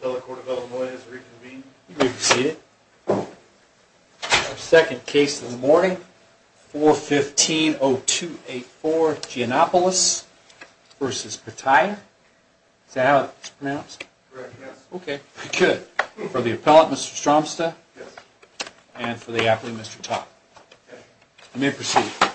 The Court of Illinois has reconvened. You may proceed. Our second case of the morning, 415-0284, Ginnopoulos v. Pitaya. Is that how it's pronounced? Correct, yes. Okay, good. For the appellant, Mr. Stromsta. Yes. And for the applicant, Mr. Topp. You may proceed. Thank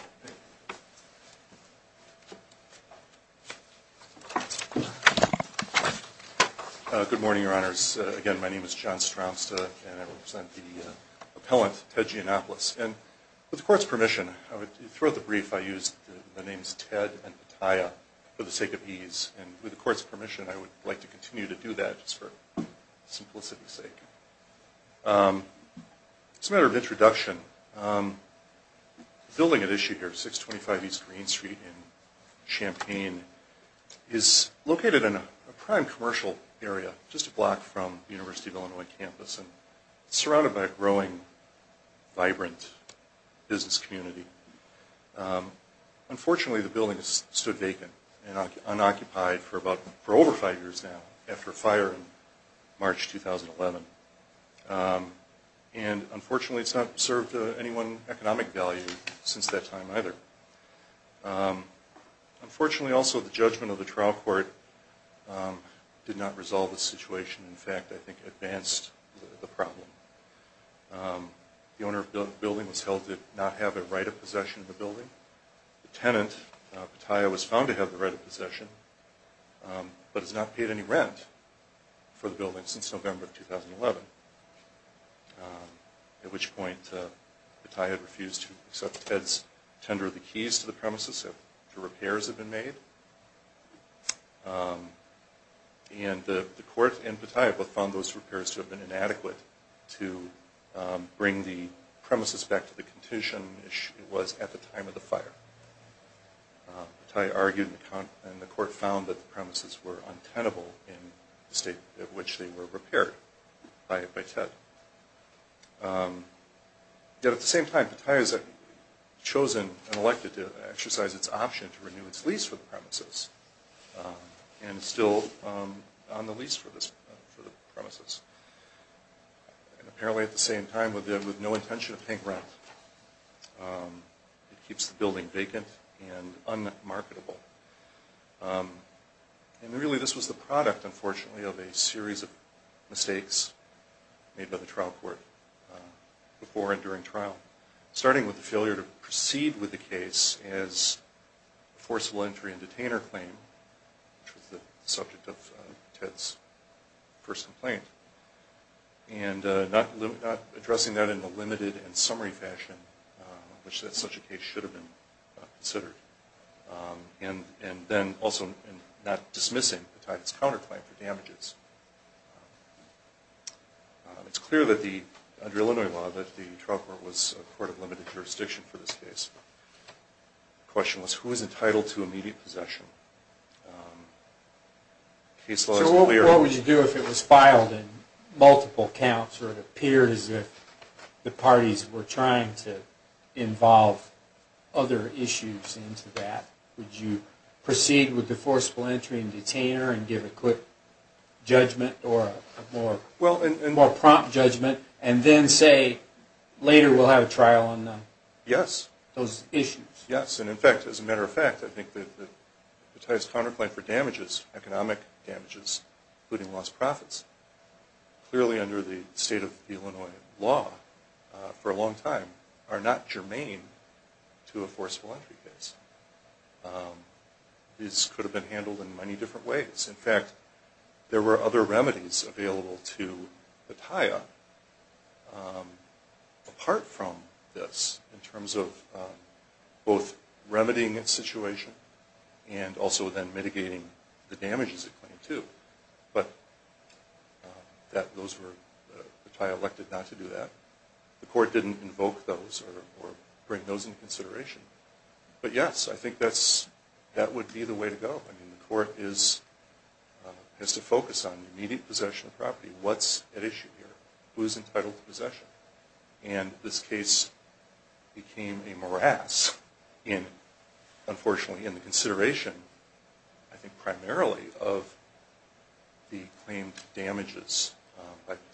you. Good morning, Your Honors. Again, my name is John Stromsta, and I represent the appellant, Ted Ginnopoulos. And with the Court's permission, throughout the brief, I used the names Ted and Pitaya for the sake of ease. And with the Court's permission, I would like to continue to do that, just for simplicity's sake. As a matter of introduction, the building at issue here, 625 East Green Street in Champaign, is located in a prime commercial area, just a block from the University of Illinois campus. It's surrounded by a growing, vibrant business community. Unfortunately, the building has stood vacant and unoccupied for over five years now, after a fire in March 2011. And unfortunately, it's not served any one economic value since that time either. Unfortunately also, the judgment of the trial court did not resolve the situation. In fact, I think it advanced the problem. The owner of the building was held to not have a right of possession of the building. The tenant, Pitaya, was found to have the right of possession, but has not paid any rent for the building since November 2011. At which point, Pitaya refused to accept Ted's tender of the keys to the premises after repairs had been made. And the Court and Pitaya both found those repairs to have been inadequate to bring the premises back to the condition it was at the time of the fire. Pitaya argued, and the Court found that the premises were untenable in the state at which they were repaired. Yet at the same time, Pitaya has chosen and elected to exercise its option to renew its lease for the premises. And it's still on the lease for the premises. And apparently at the same time, with no intention of paying rent, it keeps the building vacant and unmarketable. And really this was the product, unfortunately, of a series of mistakes made by the trial court before and during trial. Starting with the failure to proceed with the case as a forcible entry and detainer claim, which was the subject of Ted's first complaint. And not addressing that in a limited and summary fashion, in which such a case should have been considered. And then also not dismissing the Titus counterclaim for damages. It's clear under Illinois law that the trial court was a court of limited jurisdiction for this case. The question was, who is entitled to immediate possession? So what would you do if it was filed in multiple counts? Or it appeared as if the parties were trying to involve other issues into that? Would you proceed with the forcible entry and detainer and give a quick judgment or a more prompt judgment? And then say, later we'll have a trial on those issues? Yes, and in fact, as a matter of fact, I think that the Titus counterclaim for damages, economic damages, including lost profits, clearly under the state of Illinois law for a long time, are not germane to a forcible entry case. This could have been handled in many different ways. In fact, there were other remedies available to the TIA apart from this, in terms of both remedying its situation and also then mitigating the damages it claimed to. But the TIA elected not to do that. The court didn't invoke those or bring those into consideration. But yes, I think that would be the way to go. I mean, the court has to focus on immediate possession of property. What's at issue here? Who's entitled to possession? And this case became a morass, unfortunately, in the consideration, I think primarily, of the claimed damages by the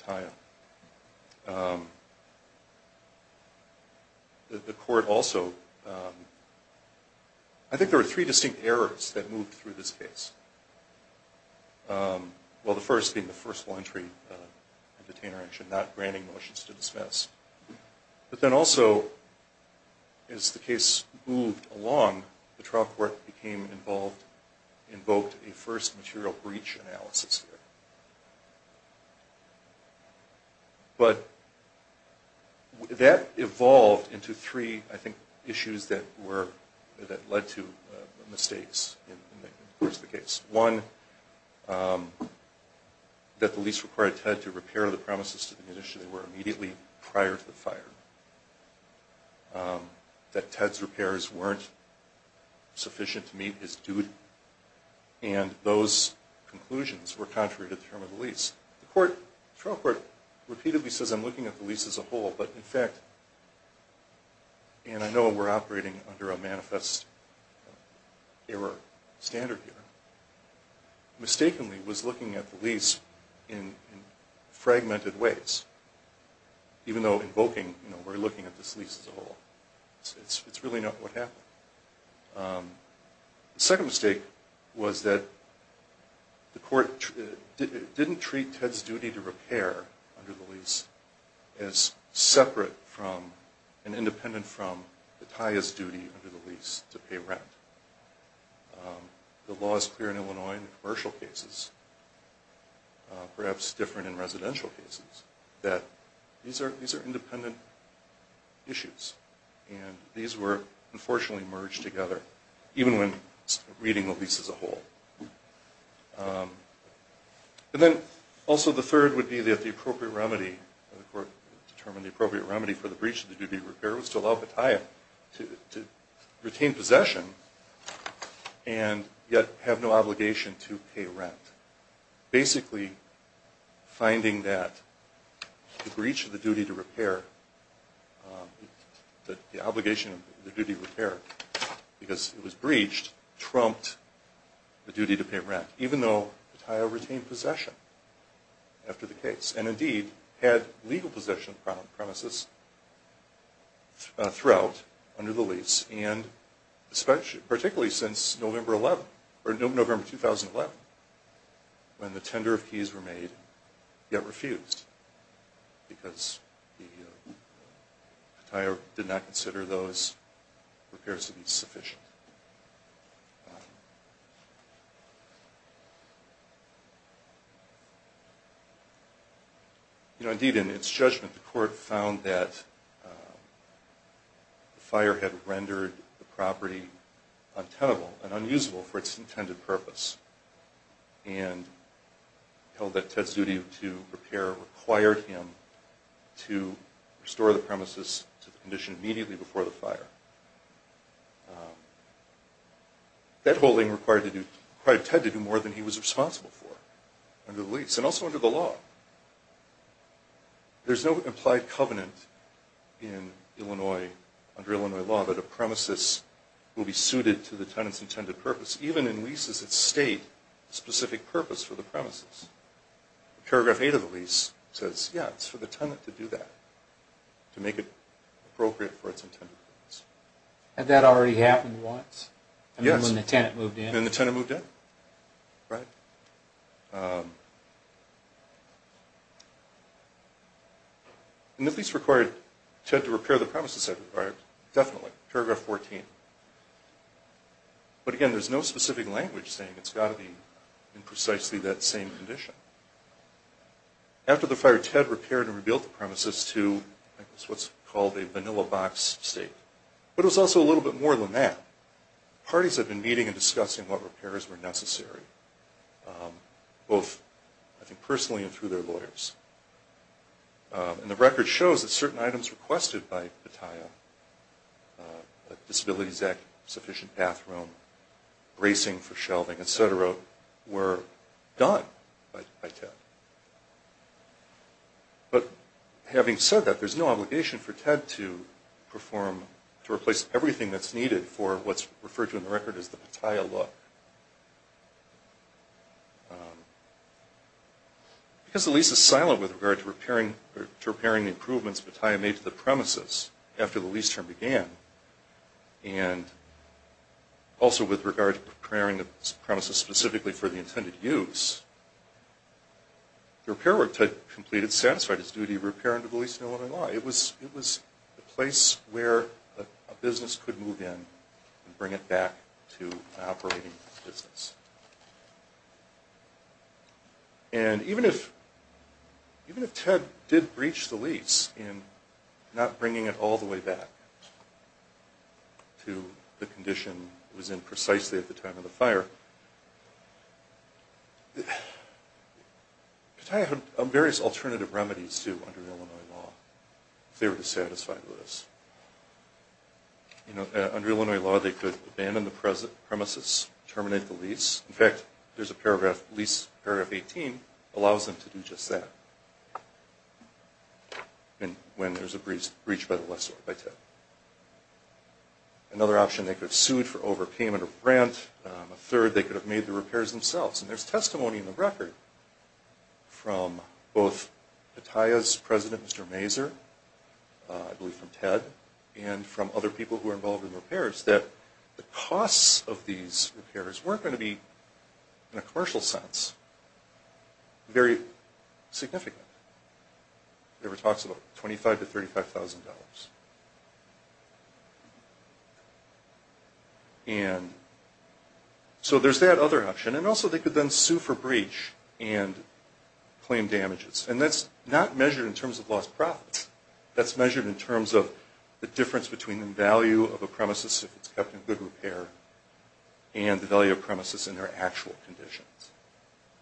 TIA. The court also, I think there were three distinct errors that moved through this case. Well, the first being the forcible entry and detainer action, not granting motions to dismiss. But then also, as the case moved along, the trial court became involved, invoked a first material breach analysis here. But that evolved into three, I think, issues that led to mistakes in the course of the case. One, that the lease required Ted to repair the premises to the condition they were immediately prior to the fire. That Ted's repairs weren't sufficient to meet his duty. And those conclusions were contrary to the term of the lease. The trial court repeatedly says, I'm looking at the lease as a whole. But in fact, and I know we're operating under a manifest error standard here, mistakenly was looking at the lease in fragmented ways. Even though invoking, you know, we're looking at this lease as a whole. It's really not what happened. The second mistake was that the court didn't treat Ted's duty to repair under the lease as separate from, and independent from, the TIA's duty under the lease to pay rent. The law is clear in Illinois in the commercial cases, perhaps different in residential cases, that these are independent issues. And these were unfortunately merged together, even when reading the lease as a whole. And then also the third would be that the appropriate remedy, the court determined the appropriate remedy for the breach of the duty to repair was to allow the TIA to retain possession and yet have no obligation to pay rent. Basically finding that the breach of the duty to repair, the obligation of the duty to repair, because it was breached, trumped the duty to pay rent. Even though the TIA retained possession after the case. And indeed had legal possession of the premises throughout, under the lease, and particularly since November 2011, when the tender of keys were made, yet refused. Because the TIA did not consider those repairs to be sufficient. Indeed in its judgment, the court found that the fire had rendered the property untenable and unusable for its intended purpose. And held that Ted's duty to repair required him to restore the premises to the condition immediately before the fire. That holding required Ted to do more than he was responsible for, under the lease. And also under the law. There's no implied covenant in Illinois, under Illinois law, that a premises will be suited to the tenant's intended purpose. Even in leases that state specific purpose for the premises. Paragraph 8 of the lease says, yeah, it's for the tenant to do that. To make it appropriate for its intended purpose. Had that already happened once? Yes. Then the tenant moved in. Then the tenant moved in. Right. And the lease required Ted to repair the premises it required. Definitely. Paragraph 14. But again, there's no specific language saying it's got to be in precisely that same condition. After the fire, Ted repaired and rebuilt the premises to what's called a vanilla box state. But it was also a little bit more than that. Parties have been meeting and discussing what repairs were necessary. Both, I think, personally and through their lawyers. And the record shows that certain items requested by the TIA, Disabilities Act, sufficient bathroom, bracing for shelving, et cetera, were done by Ted. But having said that, there's no obligation for Ted to perform, to replace everything that's needed for what's referred to in the record as the Pattaya look. Because the lease is silent with regard to repairing the improvements Pattaya made to the premises after the lease term began, and also with regard to preparing the premises specifically for the intended use, the repair work Ted completed satisfied his duty to repair under the Lease to No Living Law. It was the place where a business could move in and bring it back to an operating business. And even if Ted did breach the lease in not bringing it all the way back to the condition it was in precisely at the time of the fire, Pattaya had various alternative remedies, too, under Illinois law, if they were dissatisfied with this. Under Illinois law, they could abandon the premises, terminate the lease. In fact, there's a paragraph, lease paragraph 18, allows them to do just that when there's a breach by the lessor, by Ted. Another option, they could have sued for overpayment of rent. A third, they could have made the repairs themselves. And there's testimony in the record from both Pattaya's president, Mr. Mazur, I believe from Ted, and from other people who are involved in repairs that the costs of these repairs weren't going to be, in a commercial sense, very significant. It talks about $25,000 to $35,000. And so there's that other option. And also they could then sue for breach and claim damages. And that's not measured in terms of lost profits. That's measured in terms of the difference between the value of a premises if it's kept in good repair and the value of a premises in their actual conditions.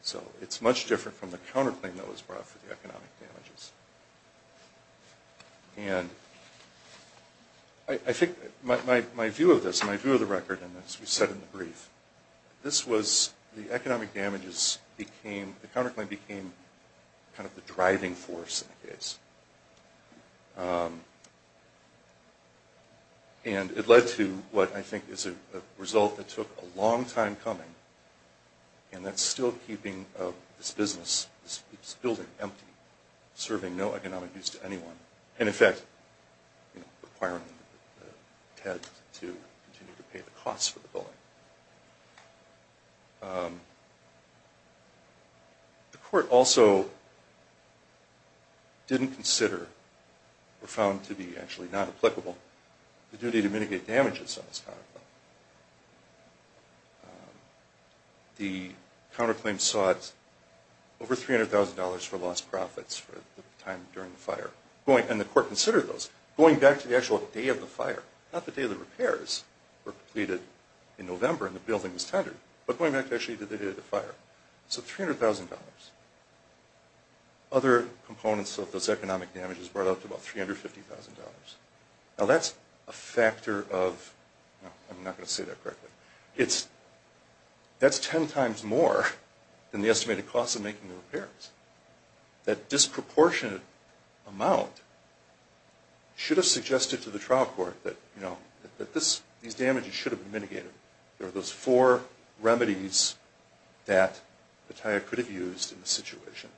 So it's much different from the counterclaim that was brought for the economic damages. And I think my view of this, my view of the record in this, we said in the brief, this was the economic damages became, the counterclaim became kind of the driving force in the case. And it led to what I think is a result that took a long time coming. And that's still keeping this business, this building empty, serving no economic use to anyone. And in fact, requiring Ted to continue to pay the costs for the building. The court also didn't consider, or found to be actually not applicable, the duty to mitigate damages on this counterclaim. The counterclaim sought over $300,000 for lost profits for the time during the fire. And the court considered those. Going back to the actual day of the fire, not the day the repairs were completed in November and the building was tendered, but going back to actually the day of the fire. So $300,000. Other components of those economic damages brought out to about $350,000. Now that's a factor of, I'm not going to say that correctly. That's ten times more than the estimated cost of making the repairs. That disproportionate amount should have suggested to the trial court that these damages should have been mitigated. There were those four remedies that the Taya could have used in the situation.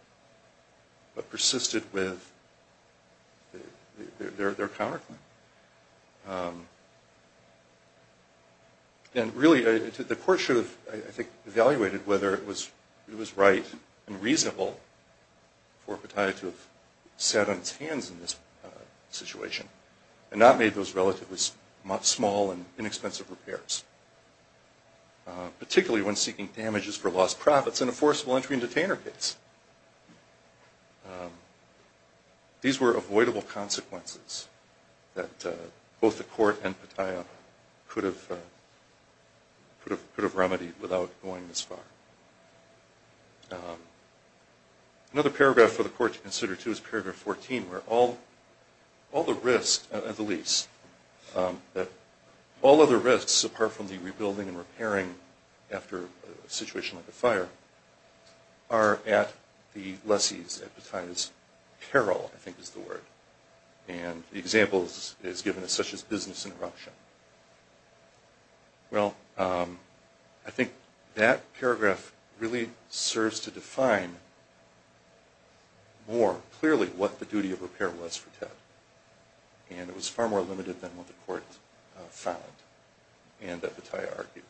But persisted with their counterclaim. And really, the court should have, I think, evaluated whether it was right and reasonable for Pattaya to have sat on its hands in this situation and not made those relatively small and inexpensive repairs. Particularly when seeking damages for lost profits in a forcible entry and detainer case. These were avoidable consequences that both the court and Pattaya could have remedied without going this far. Another paragraph for the court to consider, too, is paragraph 14 where all the risks, at the least, all other risks apart from the rebuilding and repairing after a situation like a fire are at the lessee's, at Pattaya's peril, I think is the word. And the example is given as such as business interruption. Well, I think that paragraph really serves to define more clearly what the duty of repair was for Ted. And it was far more limited than what the court found and that Pattaya argued.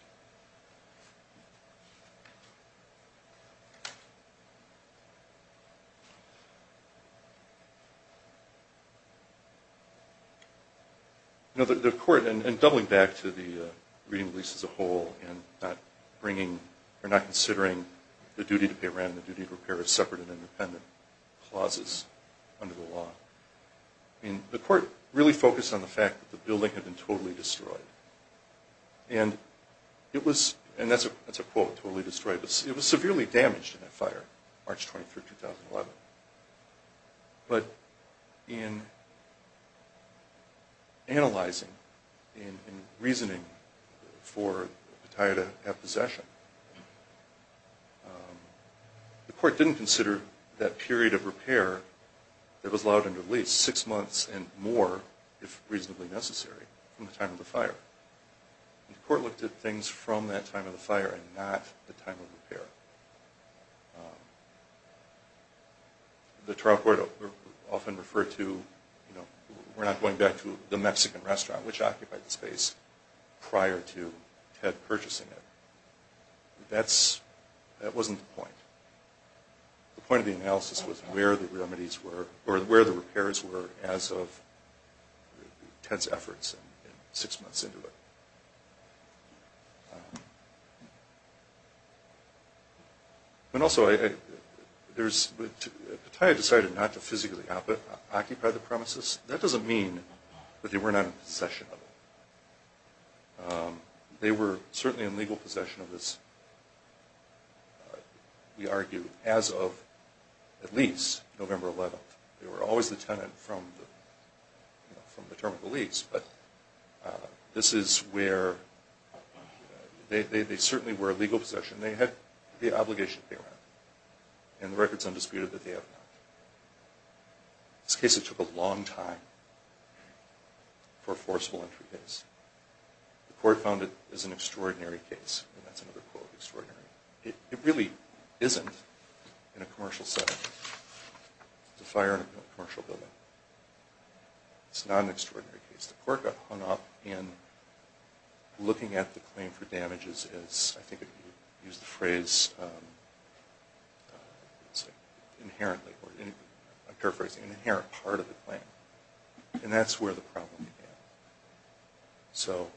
You know, the court, and doubling back to the reading of the lease as a whole and not bringing, or not considering the duty to pay rent and the duty to repair as separate and independent clauses under the law. I mean, the court really focused on the fact that the building had been totally destroyed. And it was, and that's a quote, totally destroyed. It was severely damaged in that fire, March 23, 2011. But in analyzing, in reasoning for Pattaya to have possession, the court didn't consider that period of repair that was allowed under the lease, six months and more, if reasonably necessary, from the time of the fire. The court looked at things from that time of the fire and not the time of repair. The trial court often referred to, you know, we're not going back to the Mexican restaurant, which occupied the space prior to Ted purchasing it. That wasn't the point. The point of the analysis was where the remedies were, or where the repairs were, as of Ted's efforts six months into it. And also, Pattaya decided not to physically occupy the premises. That doesn't mean that they were not in possession of it. They were certainly in legal possession of this, we argue, as of at least November 11. They were always the tenant from the term of the lease. But this is where they certainly were in legal possession. They had the obligation to pay rent. And the record's undisputed that they have not. This case, it took a long time for a forceful entry case. The court found it as an extraordinary case. And that's another quote, extraordinary. It really isn't in a commercial setting. It's a fire in a commercial building. It's not an extraordinary case. The court got hung up in looking at the claim for damages as, I think if you use the phrase, inherently, or paraphrasing, an inherent part of the claim. And that's where the problem began. So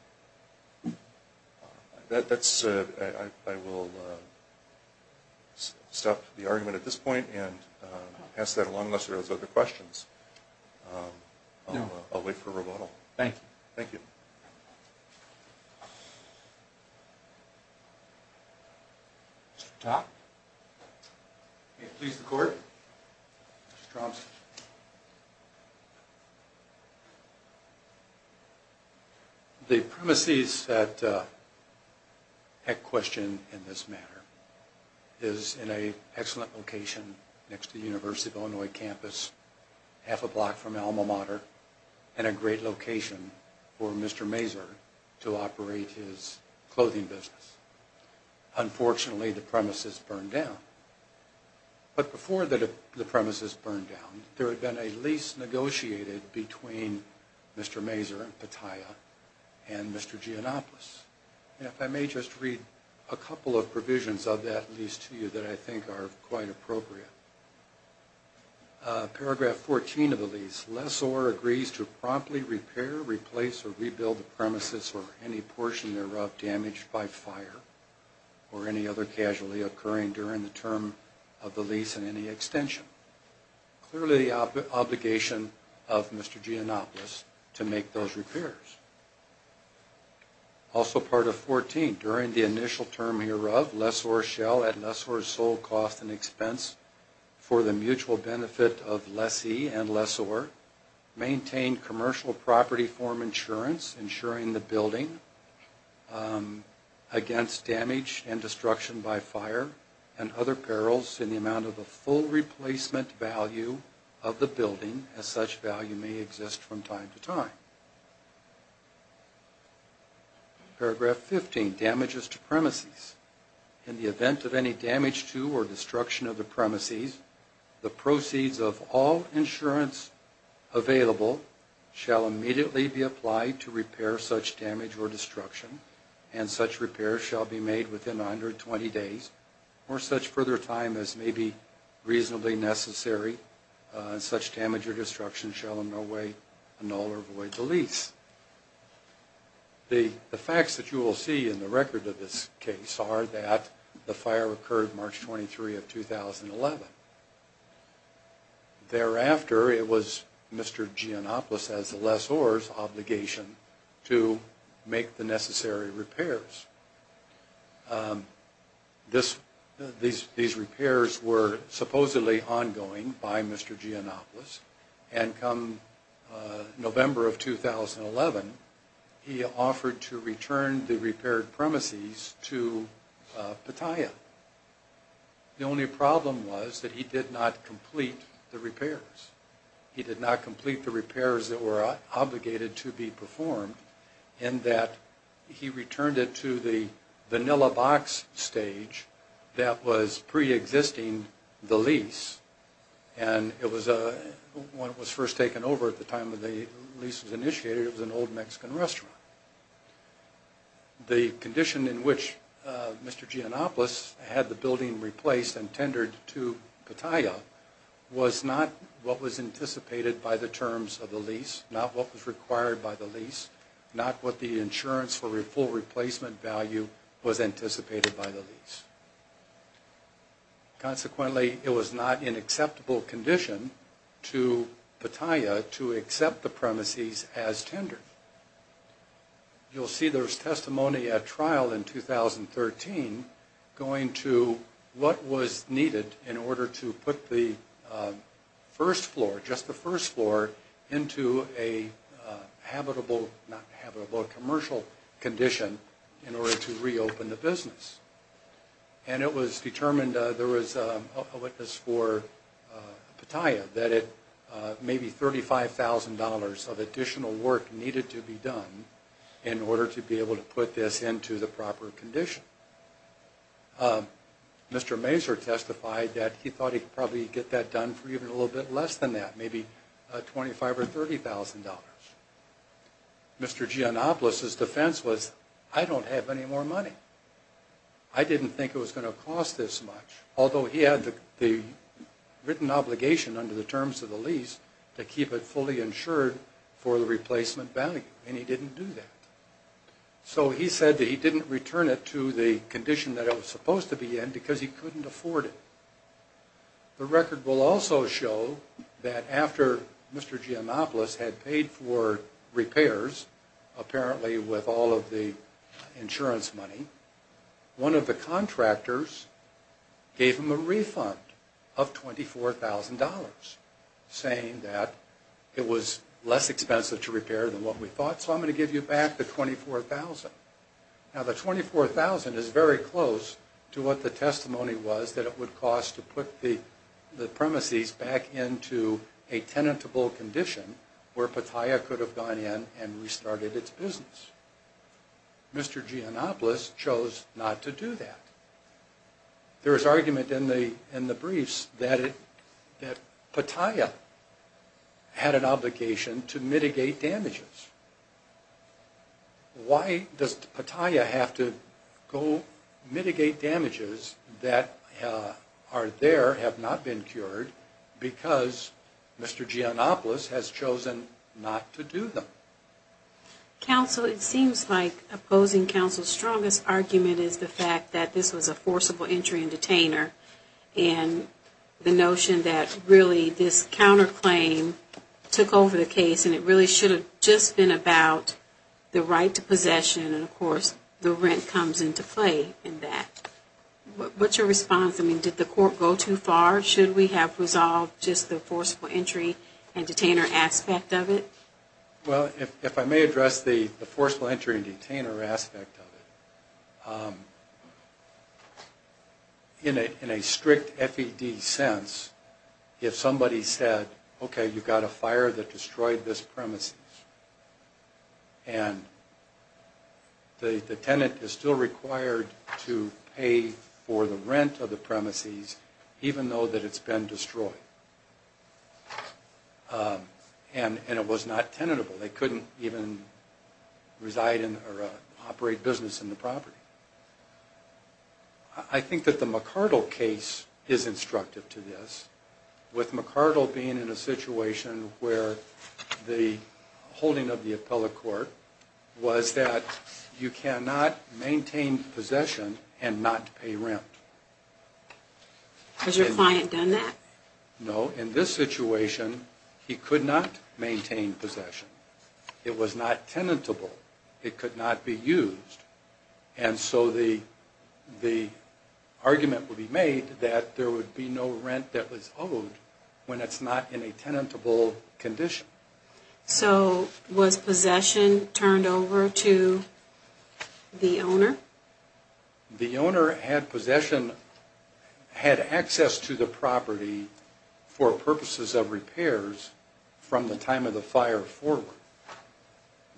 I will stop the argument at this point and pass that along unless there are other questions. I'll wait for a rebuttal. Thank you. Thank you. Mr. Topp? May it please the court? Mr. Stroms? The premises at question in this matter is in an excellent location next to the University of Illinois campus, half a block from Alma Mater, and a great location for Mr. Mazur to operate his clothing business. Unfortunately, the premises burned down. But before the premises burned down, there had been a lease negotiated between Mr. Mazur and Pattaya and Mr. Gianopolis. And if I may just read a couple of provisions of that lease to you that I think are quite appropriate. Paragraph 14 of the lease. Lessor agrees to promptly repair, replace, or rebuild the premises or any portion thereof damaged by fire or any other casualty occurring during the term of the lease and any extension. Clearly the obligation of Mr. Gianopolis to make those repairs. Also part of 14, during the initial term hereof, at lessor's sole cost and expense for the mutual benefit of lessee and lessor, maintain commercial property form insurance, ensuring the building against damage and destruction by fire and other perils in the amount of a full replacement value of the building, as such value may exist from time to time. Paragraph 15, damages to premises. In the event of any damage to or destruction of the premises, the proceeds of all insurance available shall immediately be applied to repair such damage or destruction, and such repair shall be made within 120 days or such further time as may be reasonably necessary. Such damage or destruction shall in no way annul or void the lease. The facts that you will see in the record of this case are that the fire occurred March 23 of 2011. Thereafter, it was Mr. Gianopolis, as the lessor's obligation, to make the necessary repairs. These repairs were supposedly ongoing by Mr. Gianopolis, and come November of 2011, he offered to return the repaired premises to Pattaya. The only problem was that he did not complete the repairs. He did not complete the repairs that were obligated to be performed, in that he returned it to the vanilla box stage that was pre-existing the lease, and it was when it was first taken over at the time that the lease was initiated, it was an old Mexican restaurant. The condition in which Mr. Gianopolis had the building replaced and tendered to Pattaya was not what was anticipated by the terms of the lease, not what was required by the lease, not what the insurance for full replacement value was anticipated by the lease. Consequently, it was not an acceptable condition to Pattaya to accept the premises as tendered. You'll see there's testimony at trial in 2013 going to what was needed in order to put the first floor, just the first floor, into a commercial condition in order to reopen the business. And it was determined there was a witness for Pattaya that maybe $35,000 of additional work needed to be done in order to be able to put this into the proper condition. Mr. Mazur testified that he thought he could probably get that done for even a little bit less than that, maybe $25,000 or $30,000. Mr. Gianopolis' defense was, I don't have any more money. I didn't think it was going to cost this much, although he had the written obligation under the terms of the lease to keep it fully insured for the replacement value, and he didn't do that. So he said that he didn't return it to the condition that it was supposed to be in because he couldn't afford it. The record will also show that after Mr. Gianopolis had paid for repairs, apparently with all of the insurance money, one of the contractors gave him a refund of $24,000, saying that it was less expensive to repair than what we thought, so I'm going to give you back the $24,000. Now, the $24,000 is very close to what the testimony was that it would cost to put the premises back into a tenable condition where Pattaya could have gone in and restarted its business. Mr. Gianopolis chose not to do that. There is argument in the briefs that Pattaya had an obligation to mitigate damages. Why does Pattaya have to go mitigate damages that are there, have not been cured, because Mr. Gianopolis has chosen not to do them? Counsel, it seems like opposing counsel's strongest argument is the fact that this was a forcible entry and detainer, and the notion that really this counterclaim took over the case and it really should have just been about the right to possession, and of course the rent comes into play in that. What's your response? I mean, did the court go too far? Should we have resolved just the forceful entry and detainer aspect of it? Well, if I may address the forceful entry and detainer aspect of it, in a strict FED sense, if somebody said, okay, you've got a fire that destroyed this premises, and the tenant is still required to pay for the rent of the premises, even though that it's been destroyed, and it was not tenable. They couldn't even reside in or operate business in the property. I think that the McArdle case is instructive to this, with McArdle being in a situation where the holding of the appellate court was that you cannot maintain possession and not pay rent. Has your client done that? No. In this situation, he could not maintain possession. It was not tenable. It could not be used. And so the argument would be made that there would be no rent that was owed when it's not in a tenable condition. So was possession turned over to the owner? The owner had access to the property for purposes of repairs from the time of the fire forward.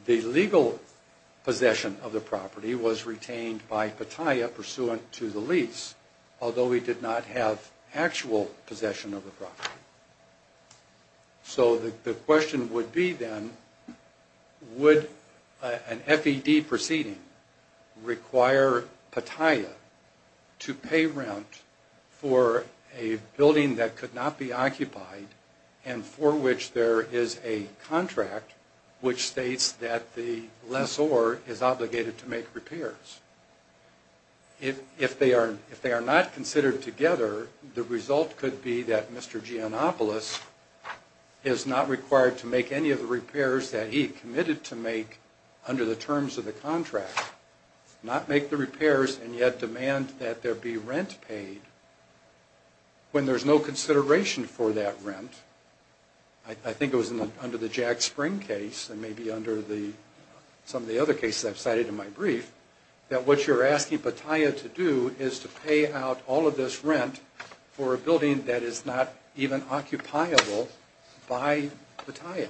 The legal possession of the property was retained by Pattaya, pursuant to the lease, although he did not have actual possession of the property. So the question would be, then, would an FED proceeding require Pattaya to pay rent for a building that could not be occupied and for which there is a contract which states that the lessor is obligated to make repairs? If they are not considered together, the result could be that Mr. Giannopoulos is not required to make any of the repairs that he committed to make under the terms of the contract. Not make the repairs and yet demand that there be rent paid when there's no consideration for that rent. I think it was under the Jack Spring case and maybe under some of the other cases I've cited in my brief, that what you're asking Pattaya to do is to pay out all of this rent for a building that is not even occupiable by Pattaya.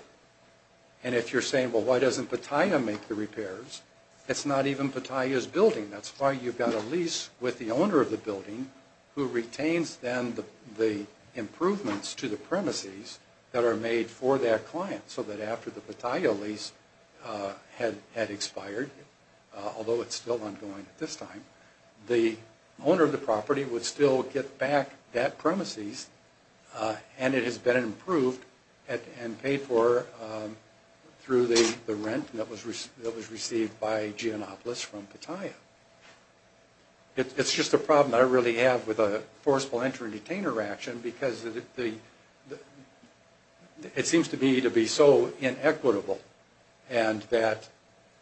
And if you're saying, well, why doesn't Pattaya make the repairs, it's not even Pattaya's building. That's why you've got a lease with the owner of the building who retains then the improvements to the premises that are made for that client so that after the Pattaya lease had expired, although it's still ongoing at this time, the owner of the property would still get back that premises and it has been improved and paid for through the rent that was received by Giannopoulos from Pattaya. It's just a problem I really have with a forcible entry detainer action because it seems to me to be so inequitable and that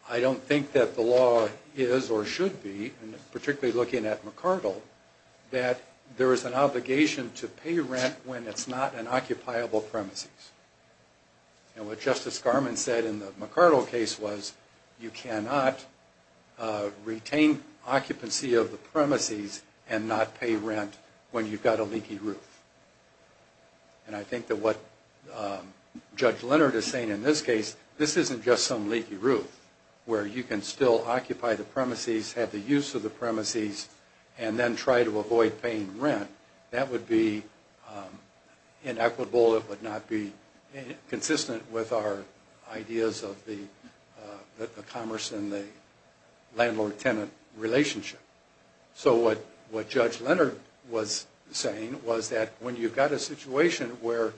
I don't think that the law is or should be, particularly looking at McArdle, that there is an obligation to pay rent when it's not an occupiable premises. And what Justice Garmon said in the McArdle case was, you cannot retain occupancy of the premises and not pay rent when you've got a leaky roof. And I think that what Judge Leonard is saying in this case, this isn't just some leaky roof where you can still occupy the premises, have the use of the premises, and then try to avoid paying rent. That would be inequitable. It would not be consistent with our ideas of the commerce and the landlord-tenant relationship. So what Judge Leonard was saying was that when you've got a situation where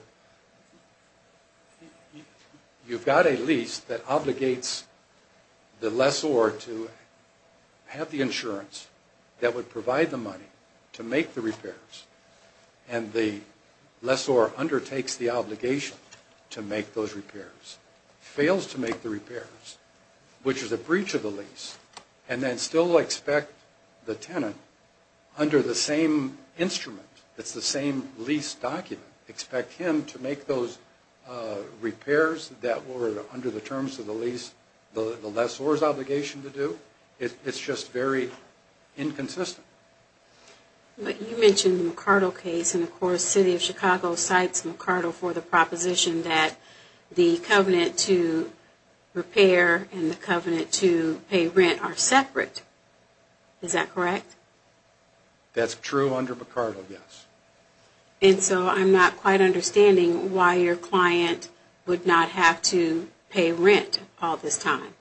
you've got a lease that obligates the lessor to have the insurance that would provide the money to make the repairs and the lessor undertakes the obligation to make those repairs, fails to make the repairs, which is a breach of the lease, and then still expect the tenant, under the same instrument, it's the same lease document, expect him to make those repairs that were under the terms of the lessor's obligation to do. It's just very inconsistent. But you mentioned the McArdle case, and of course the City of Chicago cites McArdle for the proposition that the covenant to repair and the covenant to pay rent are separate. Is that correct? That's true under McArdle, yes. And so I'm not quite understanding why your client would not have to pay rent all this time.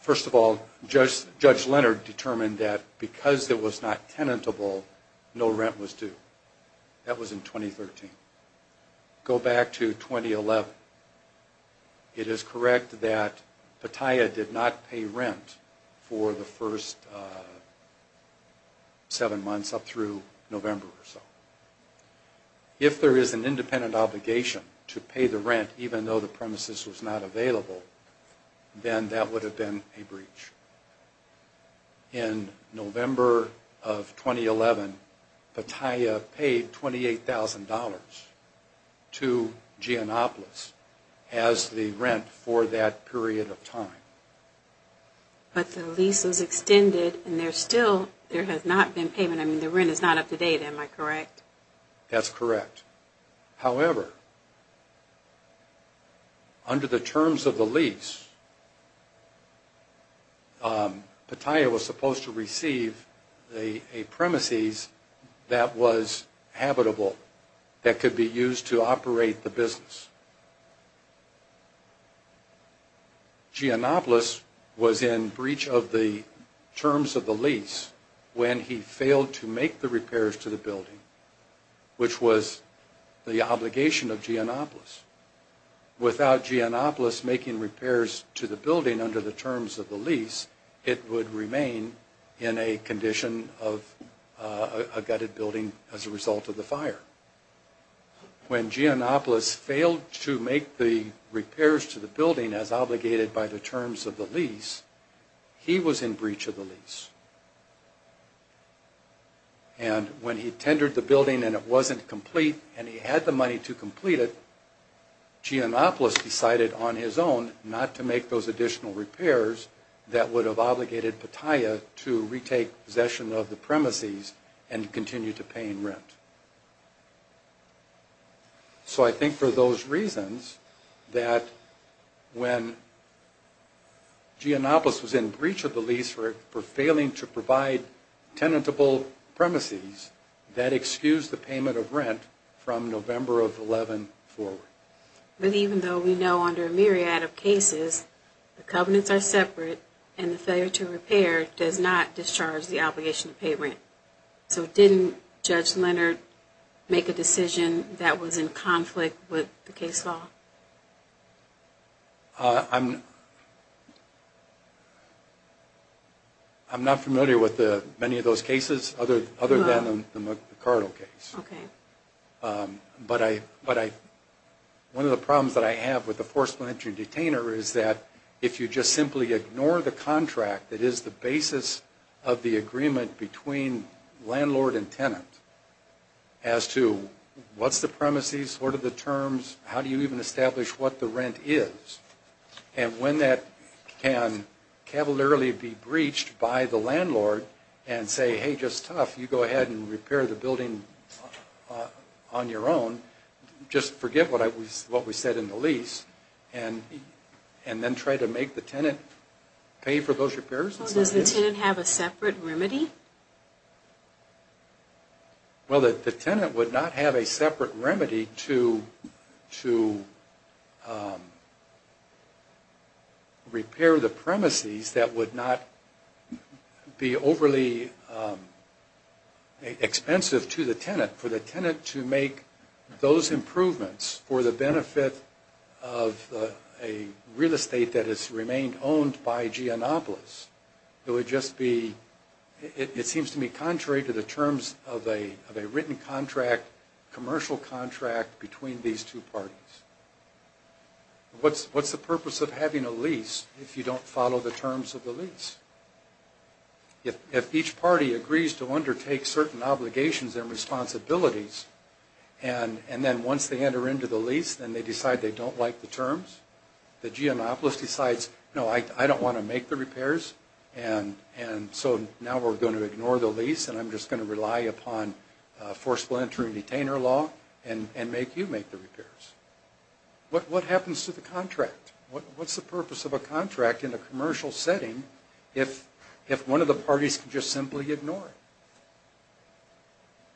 First of all, Judge Leonard determined that because it was not tenantable, no rent was due. That was in 2013. Go back to 2011. It is correct that Pattaya did not pay rent for the first seven months up through November or so. If there is an independent obligation to pay the rent, even though the premises was not available, then that would have been a breach. In November of 2011, Pattaya paid $28,000 to Gianopolis as the rent for that period of time. But the lease was extended, and there still has not been payment. I mean, the rent is not up to date, am I correct? That's correct. However, under the terms of the lease, Pattaya was supposed to receive a premises that was habitable, that could be used to operate the business. Gianopolis was in breach of the terms of the lease when he failed to make the repairs to the building, which was the obligation of Gianopolis. Without Gianopolis making repairs to the building under the terms of the lease, it would remain in a condition of a gutted building as a result of the fire. When Gianopolis failed to make the repairs to the building as obligated by the terms of the lease, he was in breach of the lease. And when he tendered the building and it wasn't complete and he had the money to complete it, Gianopolis decided on his own not to make those additional repairs that would have obligated Pattaya to retake possession of the premises and continue to pay in rent. So I think for those reasons that when Gianopolis was in breach of the lease for failing to provide tenantable premises, that excused the payment of rent from November of 2011 forward. But even though we know under a myriad of cases the covenants are separate and the failure to repair does not discharge the obligation to pay rent, so didn't Judge Leonard make a decision that was in conflict with the case law? I'm not familiar with many of those cases other than the McArdle case. But one of the problems that I have with the forced penitentiary detainer is that if you just simply ignore the contract that is the basis of the building, landlord and tenant, as to what's the premises, what are the terms, how do you even establish what the rent is, and when that can cavalierly be breached by the landlord and say, hey, just tough, you go ahead and repair the building on your own, just forget what we said in the lease and then try to make the tenant pay for those repairs? Does the tenant have a separate remedy? Well, the tenant would not have a separate remedy to repair the premises that would not be overly expensive to the tenant. For the tenant to make those improvements for the benefit of a real estate that has remained owned by Geonopolis, it would just be, it seems to me contrary to the terms of a written contract, commercial contract between these two parties. What's the purpose of having a lease if you don't follow the terms of the lease? If each party agrees to undertake certain obligations and responsibilities and then once they enter into the lease then they decide they don't like the lease, they don't want to make the repairs, and so now we're going to ignore the lease and I'm just going to rely upon forceful entry and retainer law and make you make the repairs. What happens to the contract? What's the purpose of a contract in a commercial setting if one of the parties could just simply ignore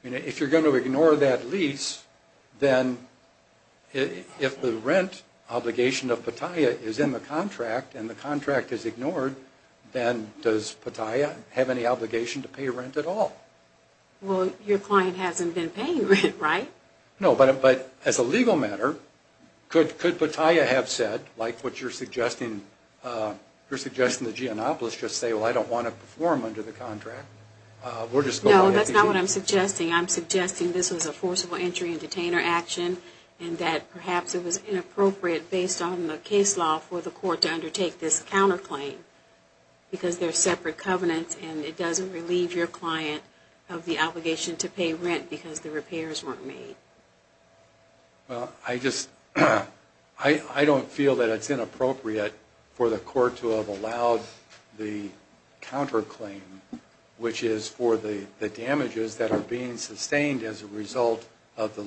it? If you're going to ignore that lease, then if the contract is ignored, then does Pattaya have any obligation to pay rent at all? Well, your client hasn't been paying rent, right? No, but as a legal matter, could Pattaya have said, like what you're suggesting, you're suggesting that Geonopolis just say, well, I don't want to perform under the contract? No, that's not what I'm suggesting. I'm suggesting this was a forceful entry and detainer action and that perhaps it was inappropriate based on the case law for the court to undertake this counterclaim because they're separate covenants and it doesn't relieve your client of the obligation to pay rent because the repairs weren't made. Well, I just, I don't feel that it's inappropriate for the court to have allowed the counterclaim, which is for the damages that are being sustained as a result of the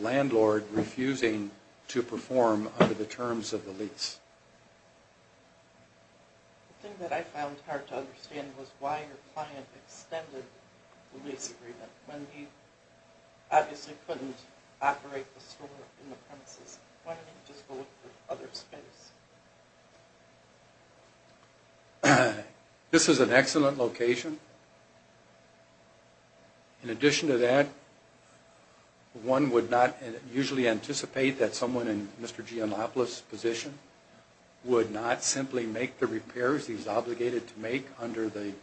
terms of the lease. The thing that I found hard to understand was why your client extended the lease agreement when he obviously couldn't operate the store in the premises. Why didn't he just go look for other space? This is an excellent location. In addition to that, one would not usually anticipate that someone in Mr. Geonopolis' position would not simply make the repairs he's obligated to make under the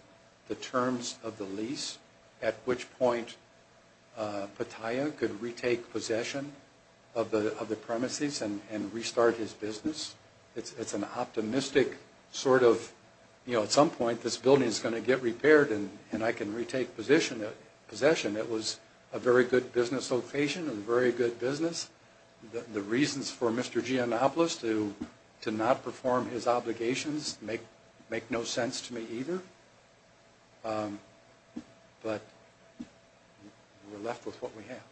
terms of the lease, at which point Pattaya could retake possession of the premises and restart his business. It's an optimistic sort of, you know, at some point this building is going to get repaired and I can retake possession. It was a very good business location and a very good business. The reasons for Mr. Geonopolis to not perform his obligations make no sense to me either, but we're left with what we have.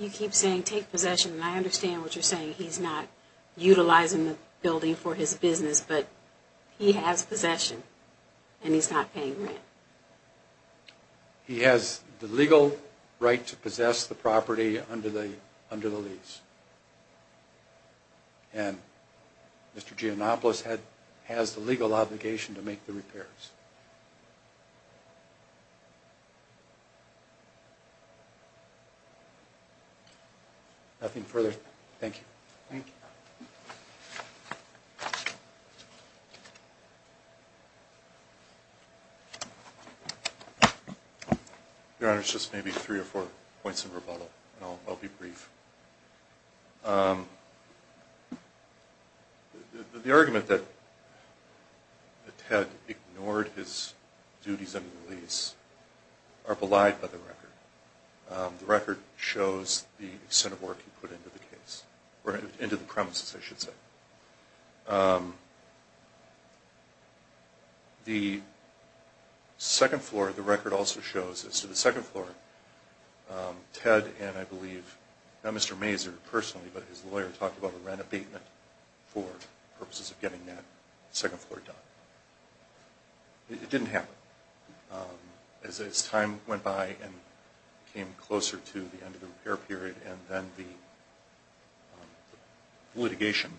You keep saying take possession and I understand what you're saying. He's not utilizing the building for his business, but he has possession and he's not paying rent. He has the legal right to possess the property under the lease and Mr. Geonopolis has the legal obligation to make the repairs. Nothing further. Thank you. Your Honor, it's just maybe three or four points of rebuttal and I'll be brief. The argument that Ted ignored his duties under the lease are belied by the record. The record shows the extent of work he put into the case, or into the premises, I should say. The second floor, the record also shows, as to the second floor, Ted and I and not Mr. Mazur personally, but his lawyer talked about a rent abatement for purposes of getting that second floor done. It didn't happen. As time went by and came closer to the end of the repair period and then the litigation,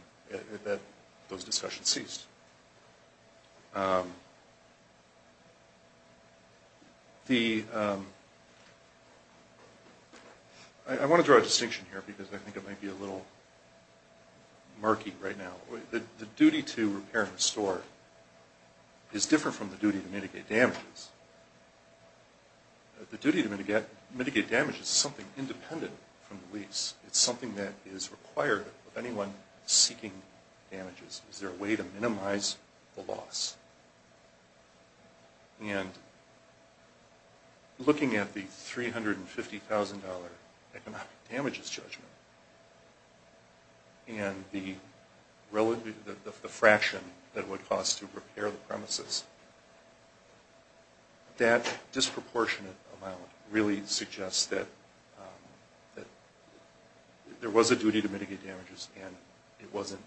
those discussions ceased. I want to draw a distinction here because I think it might be a little murky right now. The duty to repair and restore is different from the duty to mitigate damages. The duty to mitigate damages is something independent from the lease. It's something that is required of anyone seeking damages. It's their way to minimize the loss. And looking at the $350,000 economic damages judgment and the fraction that it would cost to repair the premises, that disproportionate amount really suggests that there was a duty to mitigate damages and it wasn't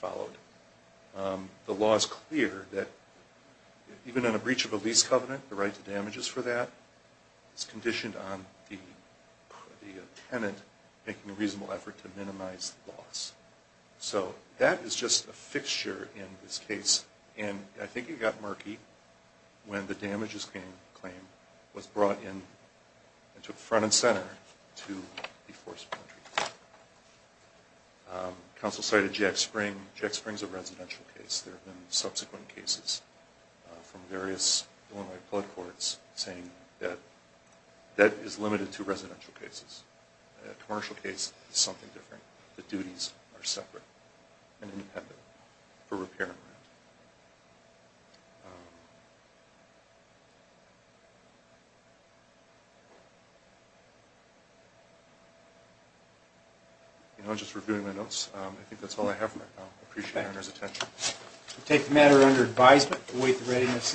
followed. The law is clear that even on a breach of a lease covenant, the right to damages for that is conditioned on the tenant making a reasonable effort to minimize loss. So that is just a fixture in this case. And I claim was brought in and took front and center to the force of entry. Counsel cited Jack Spring. Jack Spring is a residential case. There have been subsequent cases from various Illinois courts saying that that is limited to residential cases. A commercial case is something different. The duties are separate and independent for repair and rent. I'm just reviewing my notes. I think that's all I have for right now. I appreciate your attention. I take the matter under advisement and await the readiness of the next case.